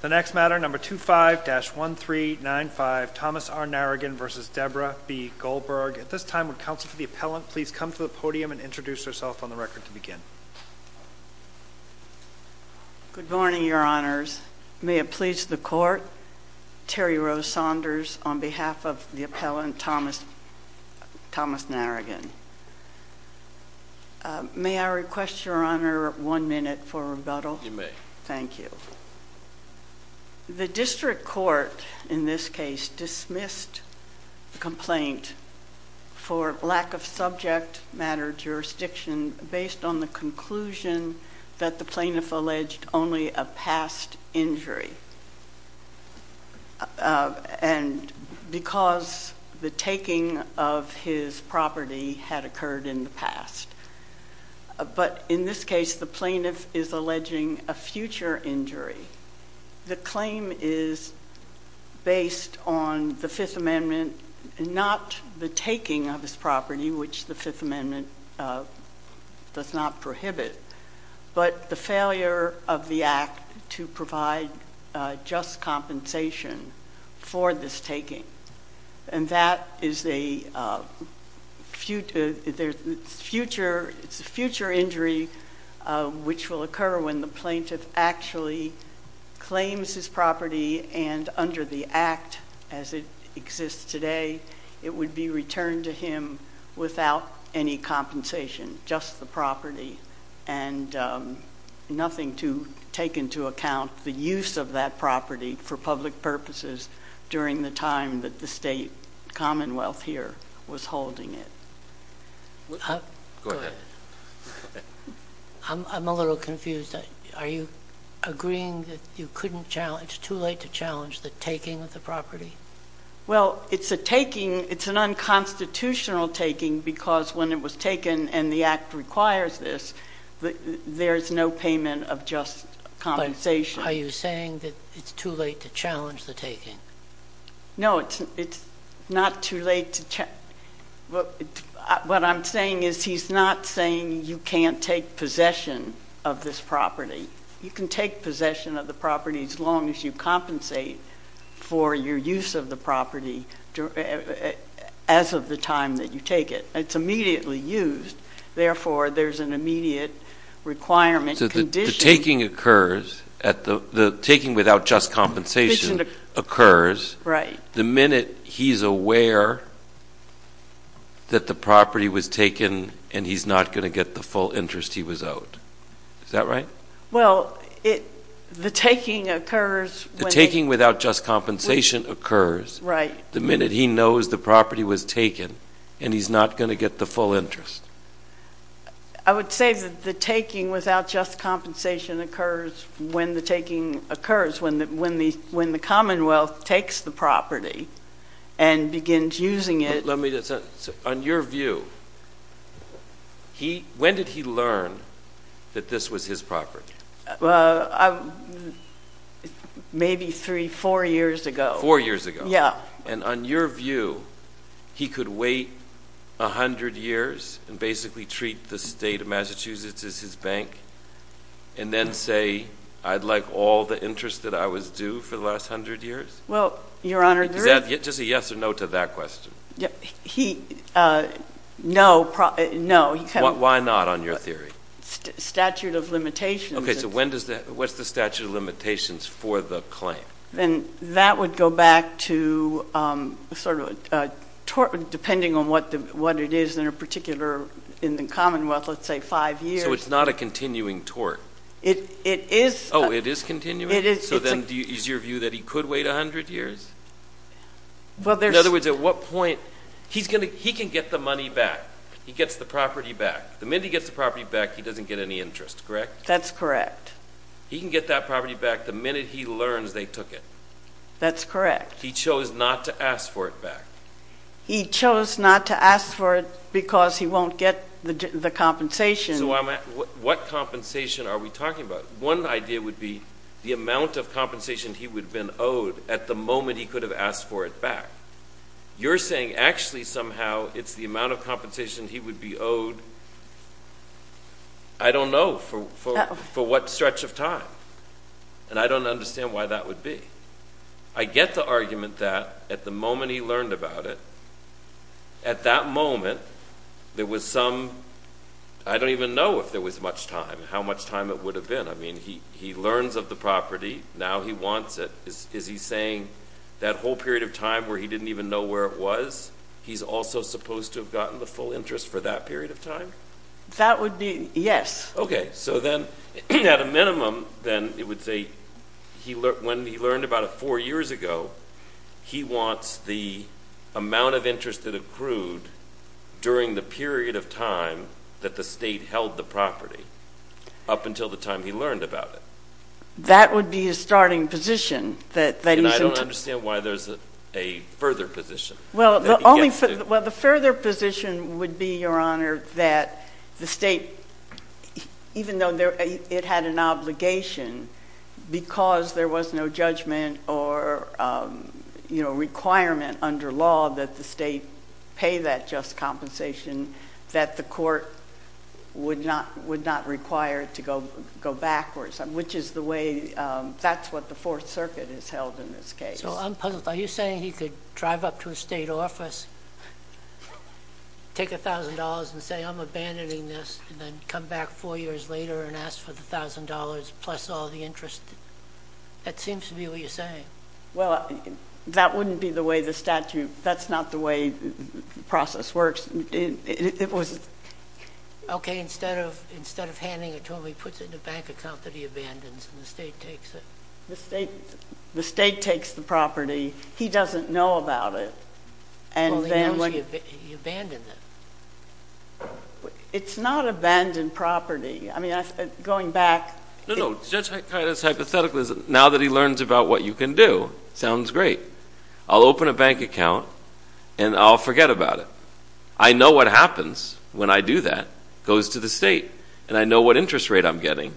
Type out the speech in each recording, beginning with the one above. The next matter, number 25-1395, Thomas R. Narrigan v. Debra B. Goldberg. At this time would counsel for the appellant please come to the podium and introduce herself on the record to begin. Good morning, your honors. May it please the court, Terry Rose Saunders on behalf of the appellant Thomas Narrigan. May I request, your honor, one minute for rebuttal? You may. Thank you. The district court in this case dismissed the complaint for lack of subject matter jurisdiction based on the conclusion that the plaintiff alleged only a past injury. And because the taking of his property had occurred in the past. But in this case the plaintiff is alleging a future injury. The claim is based on the Fifth Amendment, not the taking of his property, which the Fifth Amendment does not prohibit, but the failure of the act to provide just compensation for this taking. And that is a future injury which will occur when the plaintiff actually claims his property and under the act as it exists today, it would be returned to him without any compensation, just the property. And nothing to take into account the use of that property for public purposes during the time that the state commonwealth here was holding it. Go ahead. I'm a little confused. Are you agreeing that you couldn't challenge, too late to challenge the taking of the property? Well, it's a taking. It's an unconstitutional taking because when it was taken and the act requires this, there's no payment of just compensation. Are you saying that it's too late to challenge the taking? No, it's not too late to challenge. What I'm saying is he's not saying you can't take possession of this property. You can take possession of the property as long as you compensate for your use of the property as of the time that you take it. It's immediately used. Therefore, there's an immediate requirement. So the taking occurs, the taking without just compensation occurs the minute he's aware that the property was taken and he's not going to get the full interest he was owed. Is that right? Well, the taking occurs. The taking without just compensation occurs the minute he knows the property was taken and he's not going to get the full interest. I would say that the taking without just compensation occurs when the taking occurs, when the Commonwealth takes the property and begins using it. On your view, when did he learn that this was his property? Maybe three, four years ago. Four years ago. Yeah. And on your view, he could wait 100 years and basically treat the state of Massachusetts as his bank and then say, I'd like all the interest that I was due for the last 100 years? Well, Your Honor, there is — Is that just a yes or no to that question? No. Why not on your theory? Statute of limitations. Okay, so what's the statute of limitations for the claim? Then that would go back to sort of a tort, depending on what it is in a particular, in the Commonwealth, let's say five years. So it's not a continuing tort? It is. Oh, it is continuing? It is. So then is your view that he could wait 100 years? Well, there's — In other words, at what point — he can get the money back. He gets the property back. The minute he gets the property back, he doesn't get any interest, correct? That's correct. He can get that property back the minute he learns they took it. That's correct. He chose not to ask for it back. He chose not to ask for it because he won't get the compensation. So what compensation are we talking about? One idea would be the amount of compensation he would have been owed at the moment he could have asked for it back. You're saying actually somehow it's the amount of compensation he would be owed, I don't know, for what stretch of time. And I don't understand why that would be. I get the argument that at the moment he learned about it, at that moment there was some — I don't even know if there was much time, how much time it would have been. I mean, he learns of the property. Now he wants it. Is he saying that whole period of time where he didn't even know where it was, he's also supposed to have gotten the full interest for that period of time? That would be — yes. Okay. So then at a minimum, then it would say when he learned about it four years ago, he wants the amount of interest that accrued during the period of time that the State held the property up until the time he learned about it. That would be his starting position. And I don't understand why there's a further position that he gets to. Well, the further position would be, Your Honor, that the State, even though it had an obligation, because there was no judgment or requirement under law that the State pay that just compensation, that the court would not require to go backwards, which is the way — that's what the Fourth Circuit has held in this case. So I'm puzzled. Are you saying he could drive up to a State office, take $1,000 and say, I'm abandoning this, and then come back four years later and ask for the $1,000 plus all the interest? That seems to be what you're saying. Well, that wouldn't be the way the statute — that's not the way the process works. Okay. Instead of handing it to him, he puts it in a bank account that he abandons and the State takes it. The State takes the property. He doesn't know about it. Well, he knows he abandoned it. It's not abandoned property. I mean, going back — No, no. Judge Kida's hypothetical is now that he learns about what you can do. Sounds great. I'll open a bank account and I'll forget about it. I know what happens when I do that. It goes to the State. And I know what interest rate I'm getting.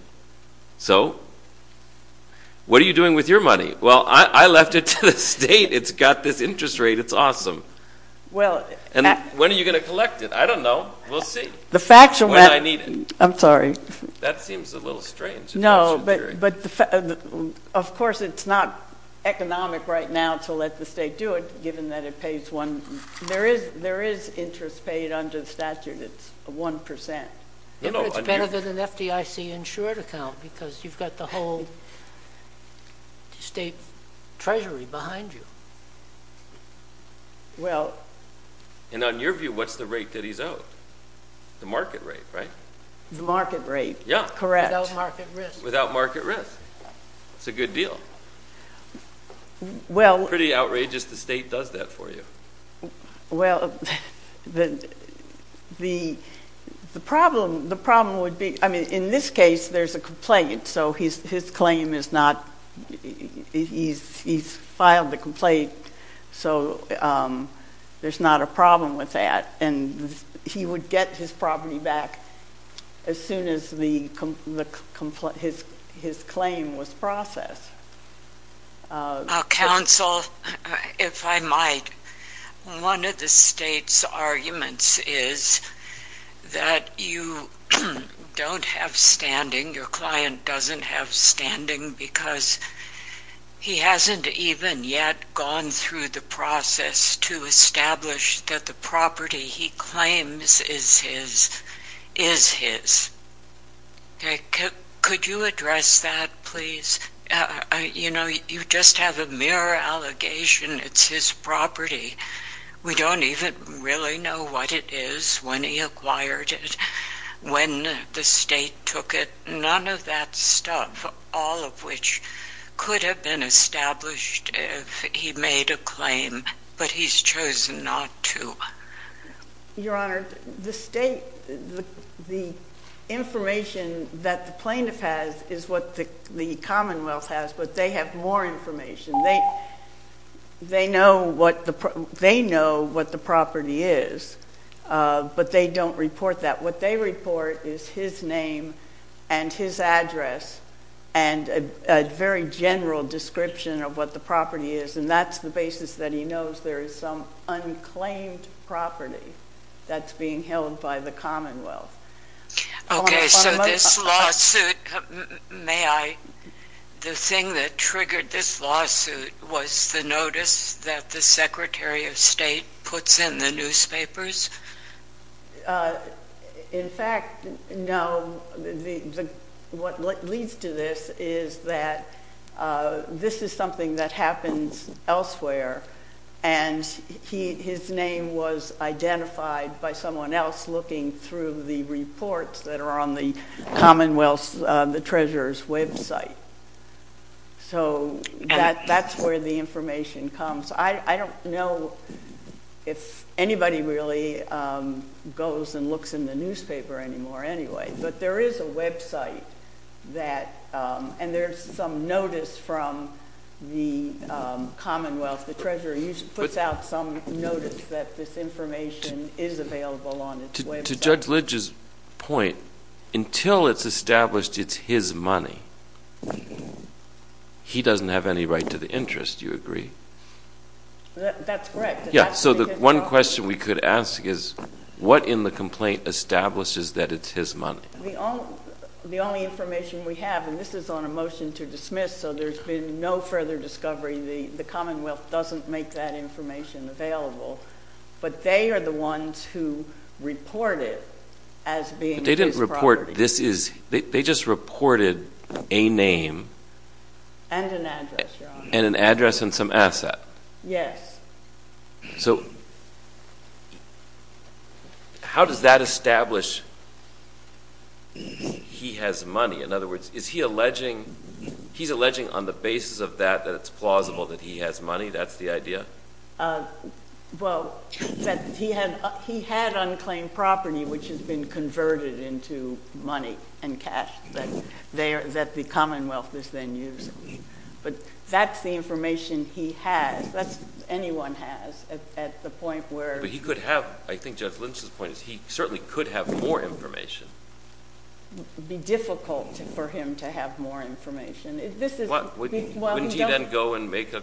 So what are you doing with your money? Well, I left it to the State. It's got this interest rate. It's awesome. And when are you going to collect it? I don't know. We'll see. When I need it. I'm sorry. That seems a little strange. No, but of course it's not economic right now to let the State do it, given that it pays one — There is interest paid under the statute. It's one percent. It's better than an FDIC-insured account because you've got the whole State Treasury behind you. Well — And on your view, what's the rate that he's owed? The market rate, right? The market rate. Yeah. Correct. Without market risk. Without market risk. It's a good deal. Well — It's pretty outrageous the State does that for you. Well, the problem would be — I mean, in this case, there's a complaint. So his claim is not — he's filed the complaint, so there's not a problem with that. And he would get his property back as soon as his claim was processed. Counsel, if I might, one of the State's arguments is that you don't have standing, your client doesn't have standing, because he hasn't even yet gone through the process to establish that the property he claims is his. Could you address that, please? You know, you just have a mere allegation it's his property. We don't even really know what it is, when he acquired it, when the State took it. None of that stuff, all of which could have been established if he made a claim, but he's chosen not to. Your Honor, the State — the information that the plaintiff has is what the Commonwealth has, but they have more information. They know what the property is, but they don't report that. What they report is his name and his address and a very general description of what the property is, and that's the basis that he knows there is some unclaimed property that's being held by the Commonwealth. Okay, so this lawsuit — may I? The thing that triggered this lawsuit was the notice that the Secretary of State puts in the newspapers? In fact, no, what leads to this is that this is something that happens elsewhere, and his name was identified by someone else looking through the reports that are on the Commonwealth's Treasurer's website. So that's where the information comes. I don't know if anybody really goes and looks in the newspaper anymore anyway, but there is a website that — and there's some notice from the Commonwealth. The Treasurer puts out some notice that this information is available on its website. To Judge Lidge's point, until it's established it's his money, he doesn't have any right to the interest. Do you agree? That's correct. Yeah, so the one question we could ask is, what in the complaint establishes that it's his money? The only information we have — and this is on a motion to dismiss, so there's been no further discovery. The Commonwealth doesn't make that information available. But they are the ones who report it as being his property. But they didn't report this is — they just reported a name. And an address, Your Honor. And an address and some asset. Yes. So how does that establish he has money? In other words, is he alleging — he's alleging on the basis of that that it's plausible that he has money? That's the idea? Well, that he had unclaimed property which has been converted into money and cash that the Commonwealth is then using. But that's the information he has. That's what anyone has at the point where — But he could have — I think Judge Lynch's point is he certainly could have more information. It would be difficult for him to have more information. Wouldn't he then go and make a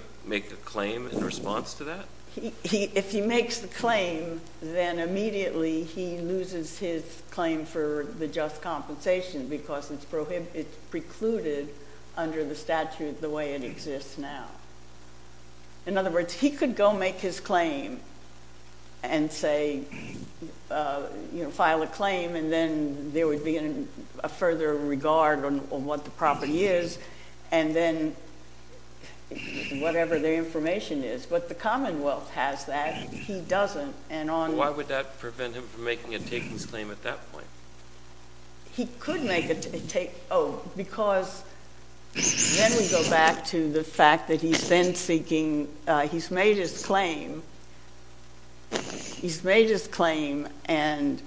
claim in response to that? If he makes the claim, then immediately he loses his claim for the just compensation because it's precluded under the statute the way it exists now. In other words, he could go make his claim and say — you know, file a claim and then there would be a further regard on what the property is. And then whatever their information is. But the Commonwealth has that. He doesn't. And on — Why would that prevent him from making a takings claim at that point? He could make a — oh, because then we go back to the fact that he's then seeking — he's made his claim. He's made his claim. And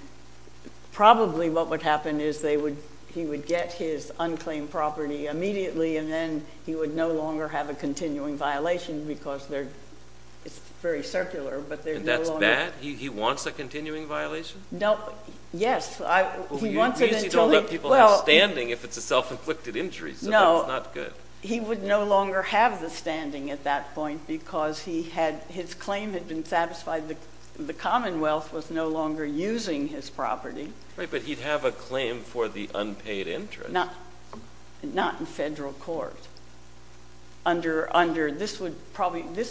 probably what would happen is they would — he would get his unclaimed property immediately and then he would no longer have a continuing violation because they're — it's very circular, but they're no longer — And that's bad? He wants a continuing violation? No. Yes. He wants it until he — Well, you usually don't let people have standing if it's a self-inflicted injury, so that's not good. He would no longer have the standing at that point because he had — his claim had been satisfied. The Commonwealth was no longer using his property. Right, but he'd have a claim for the unpaid interest. Not in federal court. This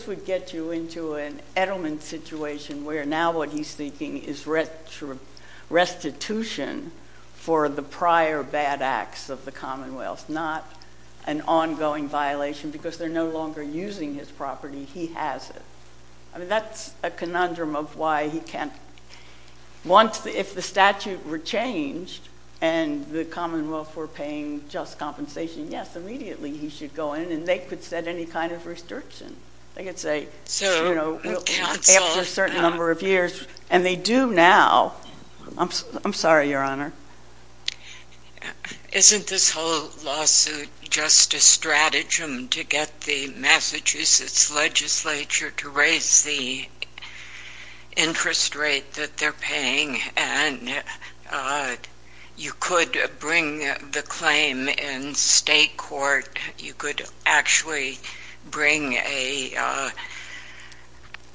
would get you into an Edelman situation where now what he's seeking is restitution for the prior bad acts of the Commonwealth, not an ongoing violation because they're no longer using his property. He has it. I mean, that's a conundrum of why he can't — Well, if the statute were changed and the Commonwealth were paying just compensation, yes, immediately he should go in and they could set any kind of restriction. They could say, you know, after a certain number of years, and they do now. I'm sorry, Your Honor. Isn't this whole lawsuit just a stratagem to get the Massachusetts legislature to raise the interest rate that they're paying? And you could bring the claim in state court. You could actually bring a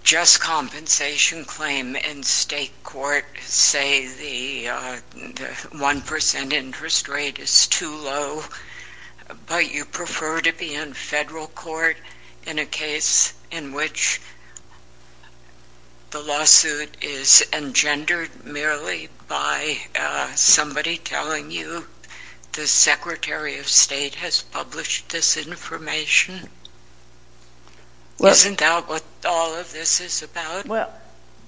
just compensation claim in state court, say the 1% interest rate is too low, but you prefer to be in federal court in a case in which the lawsuit is engendered, merely by somebody telling you the Secretary of State has published this information? Isn't that what all of this is about? Well,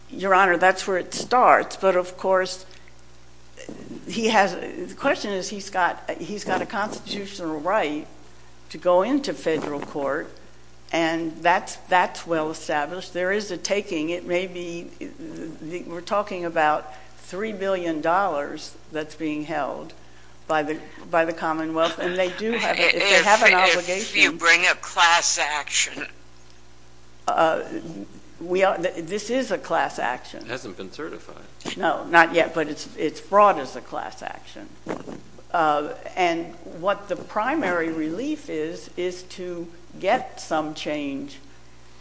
Your Honor, that's where it starts. But, of course, he has — the question is he's got a constitutional right to go into federal court, and that's well established. There is a taking. It may be — we're talking about $3 billion that's being held by the Commonwealth, and they do have an obligation — If you bring a class action. This is a class action. It hasn't been certified. No, not yet, but it's brought as a class action. And what the primary relief is, is to get some change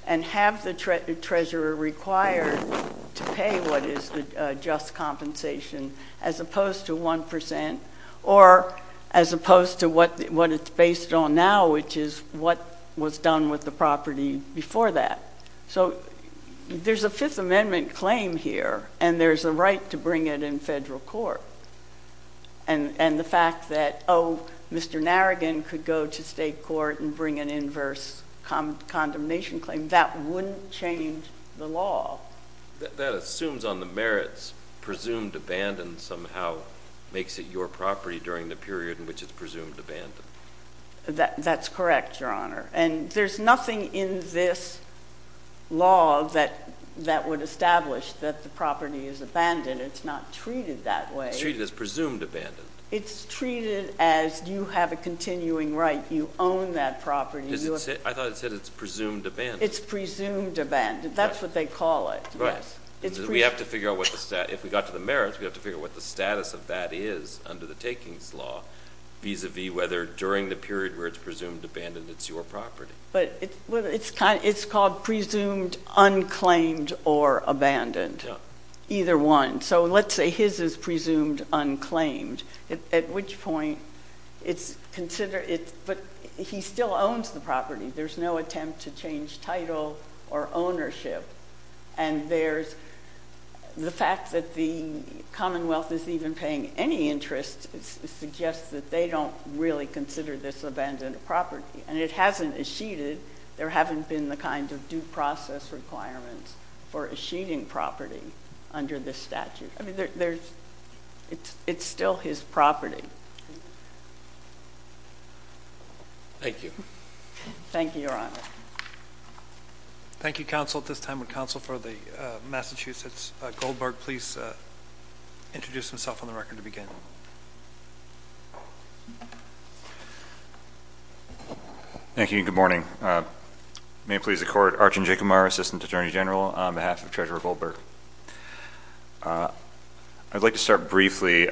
and have the treasurer required to pay what is the just compensation, as opposed to 1%, or as opposed to what it's based on now, which is what was done with the property before that. So, there's a Fifth Amendment claim here, and there's a right to bring it in federal court. And the fact that, oh, Mr. Narrigan could go to state court and bring an inverse condemnation claim, that wouldn't change the law. That assumes on the merits, presumed abandoned somehow makes it your property during the period in which it's presumed abandoned. That's correct, Your Honor. And there's nothing in this law that would establish that the property is abandoned. It's not treated that way. It's treated as presumed abandoned. It's treated as you have a continuing right. You own that property. I thought it said it's presumed abandoned. It's presumed abandoned. That's what they call it. Right. We have to figure out what the — if we got to the merits, we have to figure out what the status of that is under the takings law, vis-a-vis whether during the period where it's presumed abandoned, it's your property. But it's called presumed unclaimed or abandoned. Yeah. Either one. So, let's say his is presumed unclaimed, at which point it's considered — but he still owns the property. There's no attempt to change title or ownership. And there's — the fact that the Commonwealth is even paying any interest suggests that they don't really consider this abandoned property. And it hasn't eschated. There haven't been the kind of due process requirements for eschating property under this statute. I mean, there's — it's still his property. Thank you. Thank you, Your Honor. Thank you, Counsel. At this time, would Counsel for the Massachusetts Goldberg please introduce himself on the record to begin? Thank you, and good morning. May it please the Court. Archon Jacob, Assistant Attorney General, on behalf of Treasurer Goldberg. I'd like to start briefly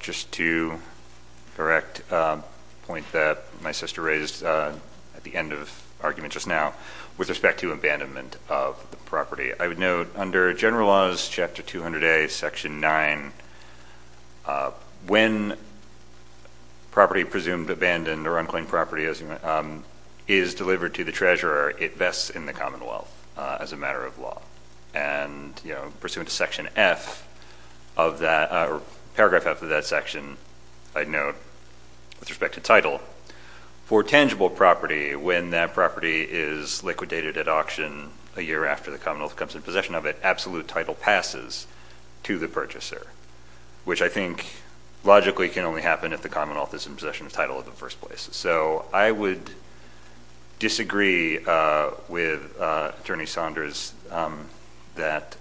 just to correct a point that my sister raised at the end of the argument just now with respect to abandonment of the property. I would note under General Laws, Chapter 200A, Section 9, when property presumed abandoned or unclaimed property is delivered to the treasurer, it vests in the Commonwealth as a matter of law. And, you know, pursuant to Section F of that — or Paragraph F of that section, I'd note, with respect to title, for tangible property, when that property is liquidated at auction a year after the Commonwealth comes in possession of it, absolute title passes to the purchaser, which I think logically can only happen if the Commonwealth is in possession of title in the first place. So I would disagree with Attorney Saunders that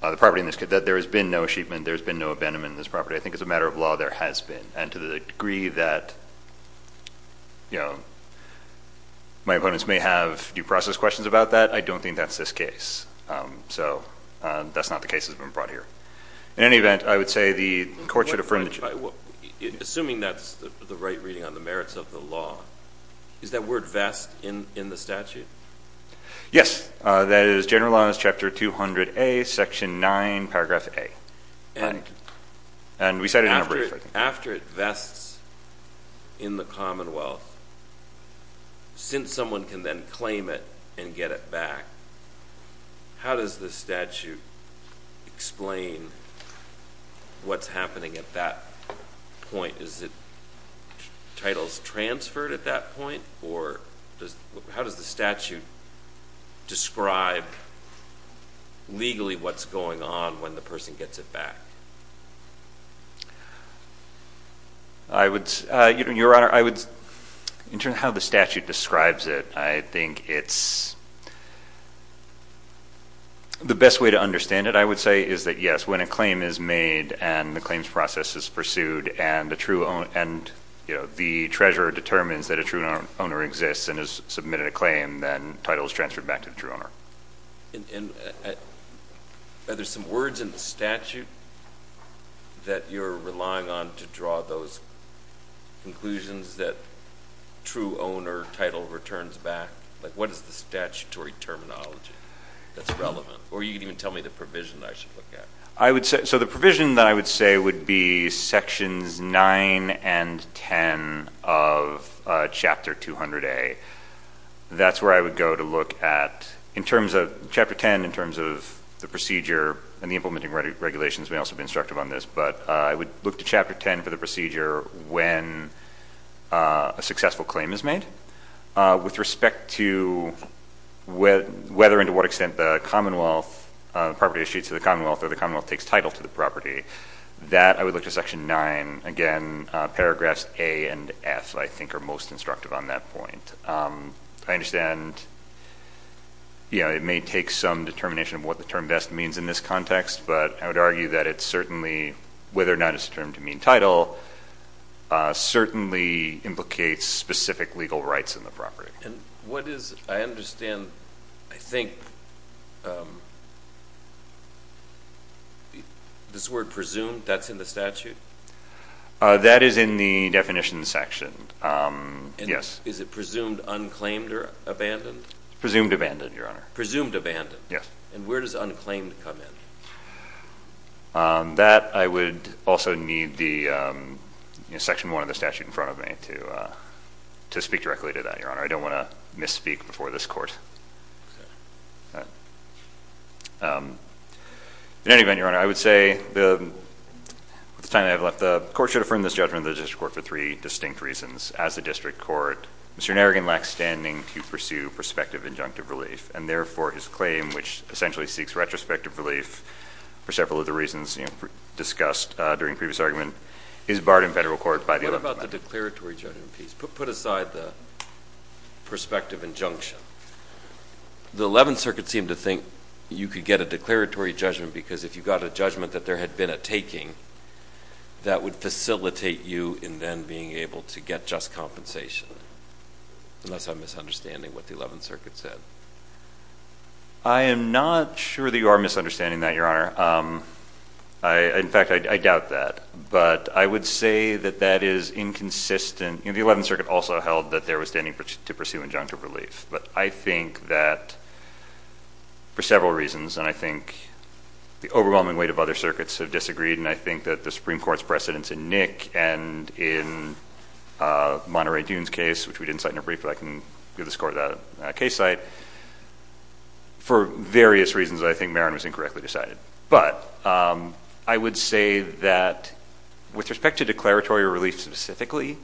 there has been no achievement, there has been no abandonment of this property. I think as a matter of law, there has been. And to the degree that, you know, my opponents may have due process questions about that, I don't think that's this case. So that's not the case that's been brought here. In any event, I would say the Court should affirm that — Assuming that's the right reading on the merits of the law, does that word vest in the statute? Yes. That is General Laws, Chapter 200A, Section 9, Paragraph A. And we cited it in our brief, I think. After it vests in the Commonwealth, since someone can then claim it and get it back, how does the statute explain what's happening at that point? Is it titles transferred at that point, or how does the statute describe legally what's going on when the person gets it back? Your Honor, in terms of how the statute describes it, I think it's — the best way to understand it, I would say, is that, yes, when a claim is made and the claims process is pursued and the treasurer determines that a true owner exists and has submitted a claim, then the title is transferred back to the true owner. And are there some words in the statute that you're relying on to draw those conclusions that true owner title returns back? Like, what is the statutory terminology that's relevant? Or you can even tell me the provision I should look at. I would say — so the provision that I would say would be Sections 9 and 10 of Chapter 200A. That's where I would go to look at — in terms of Chapter 10, in terms of the procedure and the implementing regulations, we may also be instructive on this, but I would look to Chapter 10 for the procedure when a successful claim is made. With respect to whether and to what extent the property is issued to the Commonwealth or the Commonwealth takes title to the property, that I would look to Section 9. Again, Paragraphs A and F, I think, are most instructive on that point. I understand it may take some determination of what the term best means in this context, but I would argue that it certainly, whether or not it's a term to mean title, certainly implicates specific legal rights in the property. And what is — I understand, I think, this word presumed, that's in the statute? That is in the definition section, yes. And is it presumed unclaimed or abandoned? Presumed abandoned, Your Honor. Presumed abandoned? Yes. And where does unclaimed come in? That, I would also need the Section 1 of the statute in front of me to speak directly to that, Your Honor. I don't want to misspeak before this Court. In any event, Your Honor, I would say, with the time I have left, the Court should affirm this judgment of the District Court for three distinct reasons. As the District Court, Mr. Narrigan lacks standing to pursue prospective injunctive relief, and therefore his claim, which essentially seeks retrospective relief, for several of the reasons discussed during the previous argument, is barred in federal court by the 11th Amendment. What about the declaratory judgment piece? Put aside the prospective injunction. The 11th Circuit seemed to think you could get a declaratory judgment because if you got a judgment that there had been a taking, that would facilitate you in then being able to get just compensation, unless I'm misunderstanding what the 11th Circuit said. I am not sure that you are misunderstanding that, Your Honor. In fact, I doubt that. But I would say that that is inconsistent. The 11th Circuit also held that there was standing to pursue injunctive relief. But I think that, for several reasons, and I think the overwhelming weight of other circuits have disagreed, and I think that the Supreme Court's precedence in Nick and in Monterey Dune's case, which we didn't cite in a brief, but I can give the score to that case site, for various reasons I think Marin was incorrectly decided. But I would say that with respect to declaratory relief specifically,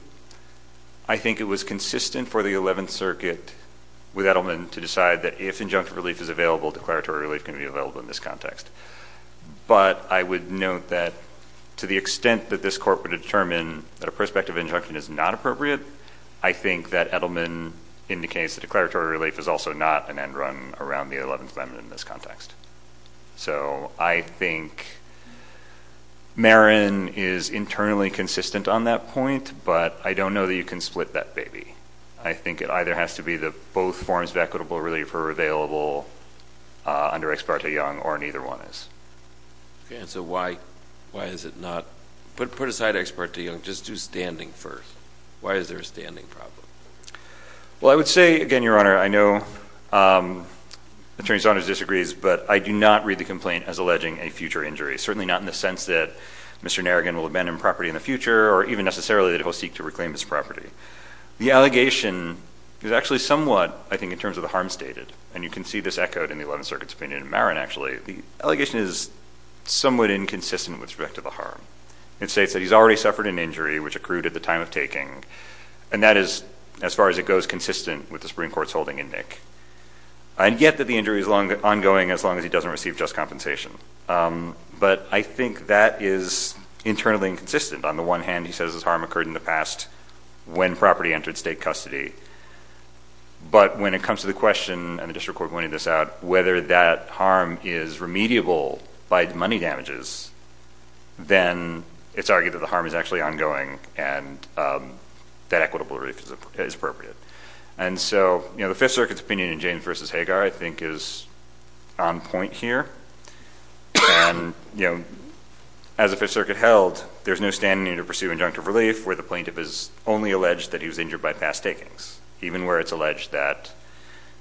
I think it was consistent for the 11th Circuit with Edelman to decide that if injunctive relief is available, declaratory relief can be available in this context. But I would note that to the extent that this Court would determine that a prospective injunction is not appropriate, I think that Edelman indicates that declaratory relief is also not an end run around the 11th Amendment in this context. So I think Marin is internally consistent on that point, but I don't know that you can split that baby. I think it either has to be that both forms of equitable relief are available under Ex parte Young or neither one is. And so why is it not? Put aside Ex parte Young. Just do standing first. Why is there a standing problem? Well, I would say, again, Your Honor, I know Attorney Saunders disagrees, but I do not read the complaint as alleging a future injury, certainly not in the sense that Mr. Narragan will abandon property in the future or even necessarily that he will seek to reclaim his property. The allegation is actually somewhat, I think, in terms of the harm stated, and you can see this echoed in the Eleventh Circuit's opinion in Marin, actually. The allegation is somewhat inconsistent with respect to the harm. It states that he's already suffered an injury which accrued at the time of taking, and that is, as far as it goes, consistent with the Supreme Court's holding in Nick. And yet that the injury is ongoing as long as he doesn't receive just compensation. But I think that is internally inconsistent. On the one hand, he says his harm occurred in the past when property entered state custody. But when it comes to the question, and the district court pointed this out, whether that harm is remediable by money damages, then it's argued that the harm is actually ongoing and that equitable relief is appropriate. And so the Fifth Circuit's opinion in James v. Hagar, I think, is on point here. As the Fifth Circuit held, there's no standing to pursue injunctive relief where the plaintiff is only alleged that he was injured by past takings, even where it's alleged that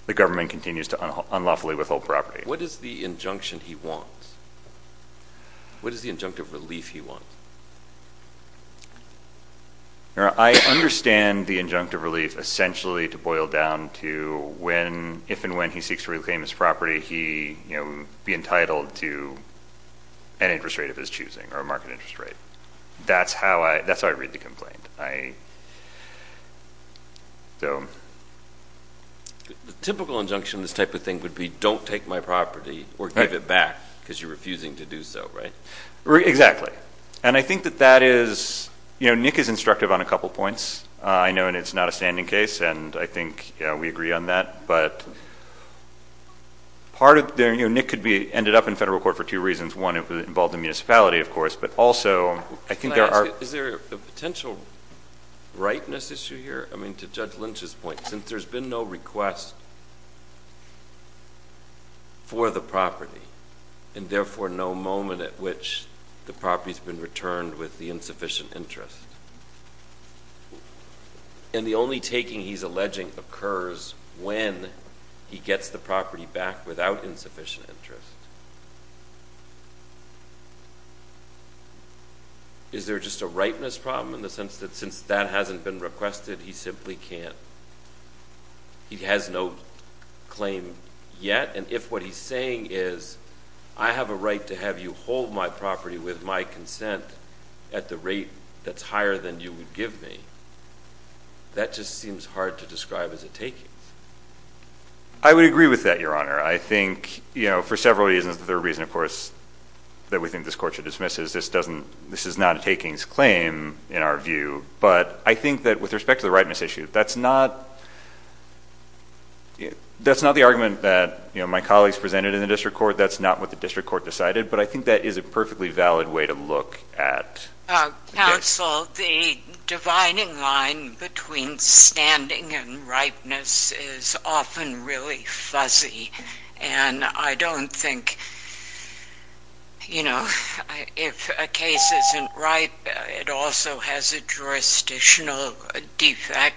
the government continues to unlawfully withhold property. What is the injunction he wants? What is the injunctive relief he wants? I understand the injunctive relief essentially to boil down to if and when he seeks to reclaim his property, he will be entitled to an interest rate of his choosing or a market interest rate. That's how I read the complaint. The typical injunction in this type of thing would be, don't take my property or give it back because you're refusing to do so, right? Exactly. And I think that that is – Nick is instructive on a couple points. I know it's not a standing case, and I think we agree on that. But part of – Nick could be ended up in federal court for two reasons. One, it would involve the municipality, of course, but also I think there are – May I ask, is there a potential rightness issue here? I mean, to Judge Lynch's point, since there's been no request for the property and therefore no moment at which the property has been returned with the insufficient interest, and the only taking he's alleging occurs when he gets the property back without insufficient interest, is there just a rightness problem in the sense that since that hasn't been requested, he simply can't – he has no claim yet? And if what he's saying is, I have a right to have you hold my property with my consent at the rate that's higher than you would give me, that just seems hard to describe as a takings. I would agree with that, Your Honor. I think, you know, for several reasons, the reason, of course, that we think this court should dismiss is this is not a takings claim in our view, but I think that with respect to the rightness issue, that's not – that's not the argument that, you know, my colleagues presented in the district court. That's not what the district court decided, but I think that is a perfectly valid way to look at – Counsel, the dividing line between standing and rightness is often really fuzzy, and I don't think, you know, if a case isn't right, it also has a jurisdictional defect.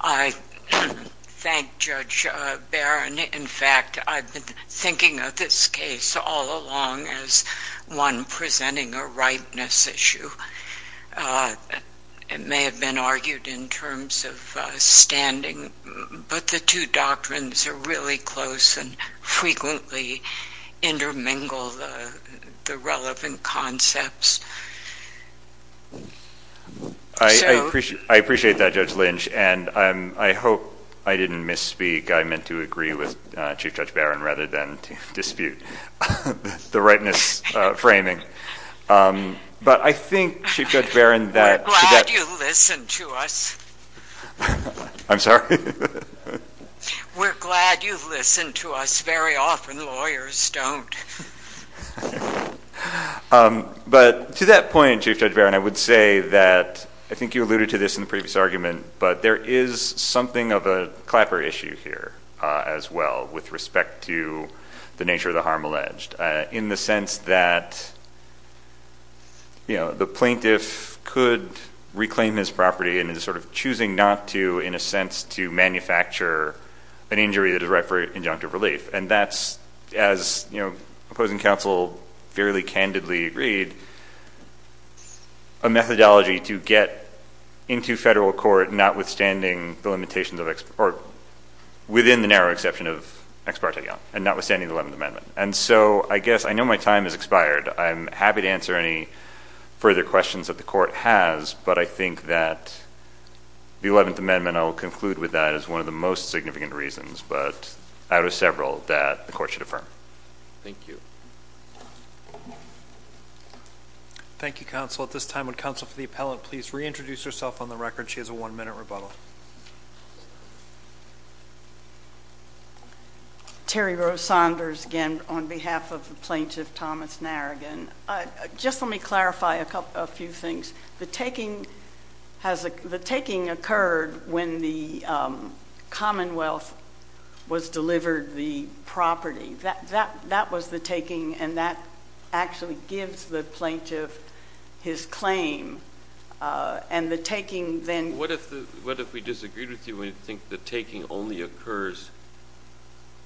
I thank Judge Barron. In fact, I've been thinking of this case all along as one presenting a rightness issue. It may have been argued in terms of standing, but the two doctrines are really close and frequently intermingle the relevant concepts. I appreciate that, Judge Lynch, and I hope I didn't misspeak. I meant to agree with Chief Judge Barron rather than dispute the rightness framing. But I think, Chief Judge Barron, that – We're glad you listen to us. I'm sorry? We're glad you listen to us. Very often lawyers don't. But to that point, Chief Judge Barron, I would say that I think you alluded to this in the previous argument, but there is something of a clapper issue here as well with respect to the nature of the harm alleged in the sense that, you know, the plaintiff could reclaim his property and is sort of choosing not to in a sense to manufacture an injury that is right for injunctive relief. And that's, as, you know, opposing counsel fairly candidly agreed, a methodology to get into federal court notwithstanding the limitations of – or within the narrow exception of ex parte liaison and notwithstanding the Eleventh Amendment. And so I guess I know my time has expired. I'm happy to answer any further questions that the Court has, but I think that the Eleventh Amendment, I will conclude with that, is one of the most significant reasons, but out of several, that the Court should affirm. Thank you. Thank you, Counsel. At this time, would Counsel for the Appellant please reintroduce herself on the record? She has a one-minute rebuttal. Terry Rose Saunders again on behalf of Plaintiff Thomas Narragan. Just let me clarify a few things. The taking occurred when the Commonwealth was delivered the property. That was the taking, and that actually gives the plaintiff his claim. And the taking then – What if we disagreed with you and we think the taking only occurs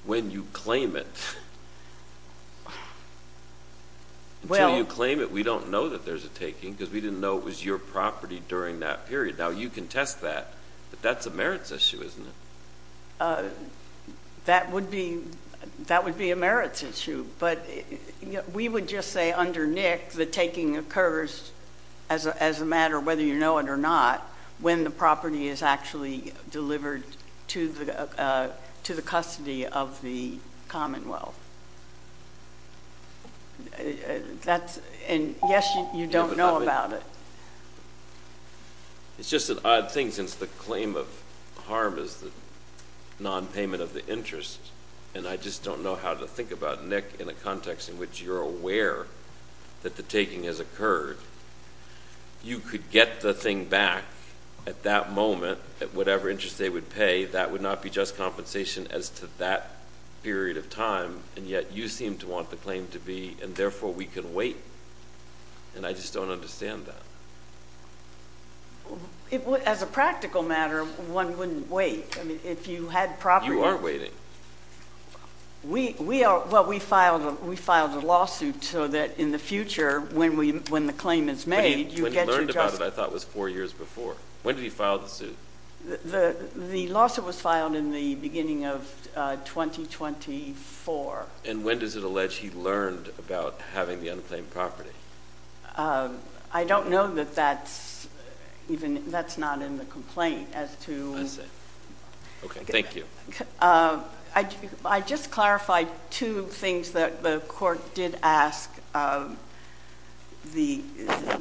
when you claim it? Until you claim it, we don't know that there's a taking because we didn't know it was your property during that period. Now, you can test that, but that's a merits issue, isn't it? That would be a merits issue, but we would just say under Nick the taking occurs, as a matter of whether you know it or not, when the property is actually delivered to the custody of the Commonwealth. And, yes, you don't know about it. It's just an odd thing since the claim of harm is the nonpayment of the interest, and I just don't know how to think about Nick in a context in which you're aware that the taking has occurred. You could get the thing back at that moment at whatever interest they would pay. That would not be just compensation as to that period of time, and yet you seem to want the claim to be, and therefore we can wait. And I just don't understand that. As a practical matter, one wouldn't wait. You aren't waiting. Well, we filed a lawsuit so that in the future, when the claim is made, you get your justice. But he learned about it, I thought, was four years before. When did he file the suit? The lawsuit was filed in the beginning of 2024. And when does it allege he learned about having the unclaimed property? I don't know that that's even, that's not in the complaint as to. I see. Okay, thank you. I just clarified two things that the court did ask the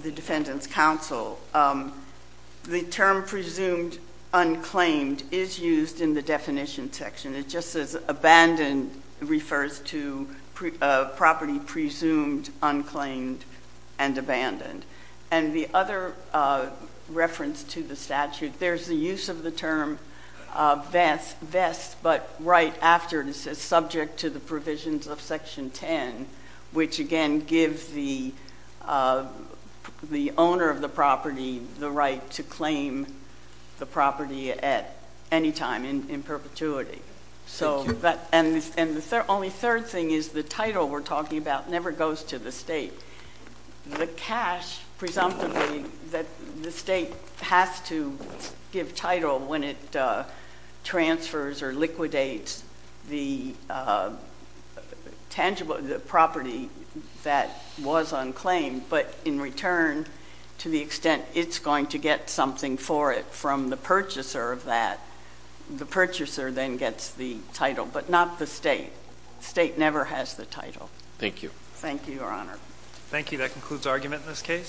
defendant's counsel. The term presumed unclaimed is used in the definition section. It just says abandoned refers to property presumed, unclaimed, and abandoned. And the other reference to the statute, there's the use of the term vest, but right after it is subject to the provisions of Section 10, which, again, gives the owner of the property the right to claim the property at any time in perpetuity. And the only third thing is the title we're talking about never goes to the state. The cash, presumptively, that the state has to give title when it transfers or liquidates the tangible property that was unclaimed, but in return to the extent it's going to get something for it from the purchaser of that, the purchaser then gets the title, but not the state. The state never has the title. Thank you. Thank you, Your Honor. Thank you. That concludes argument in this case.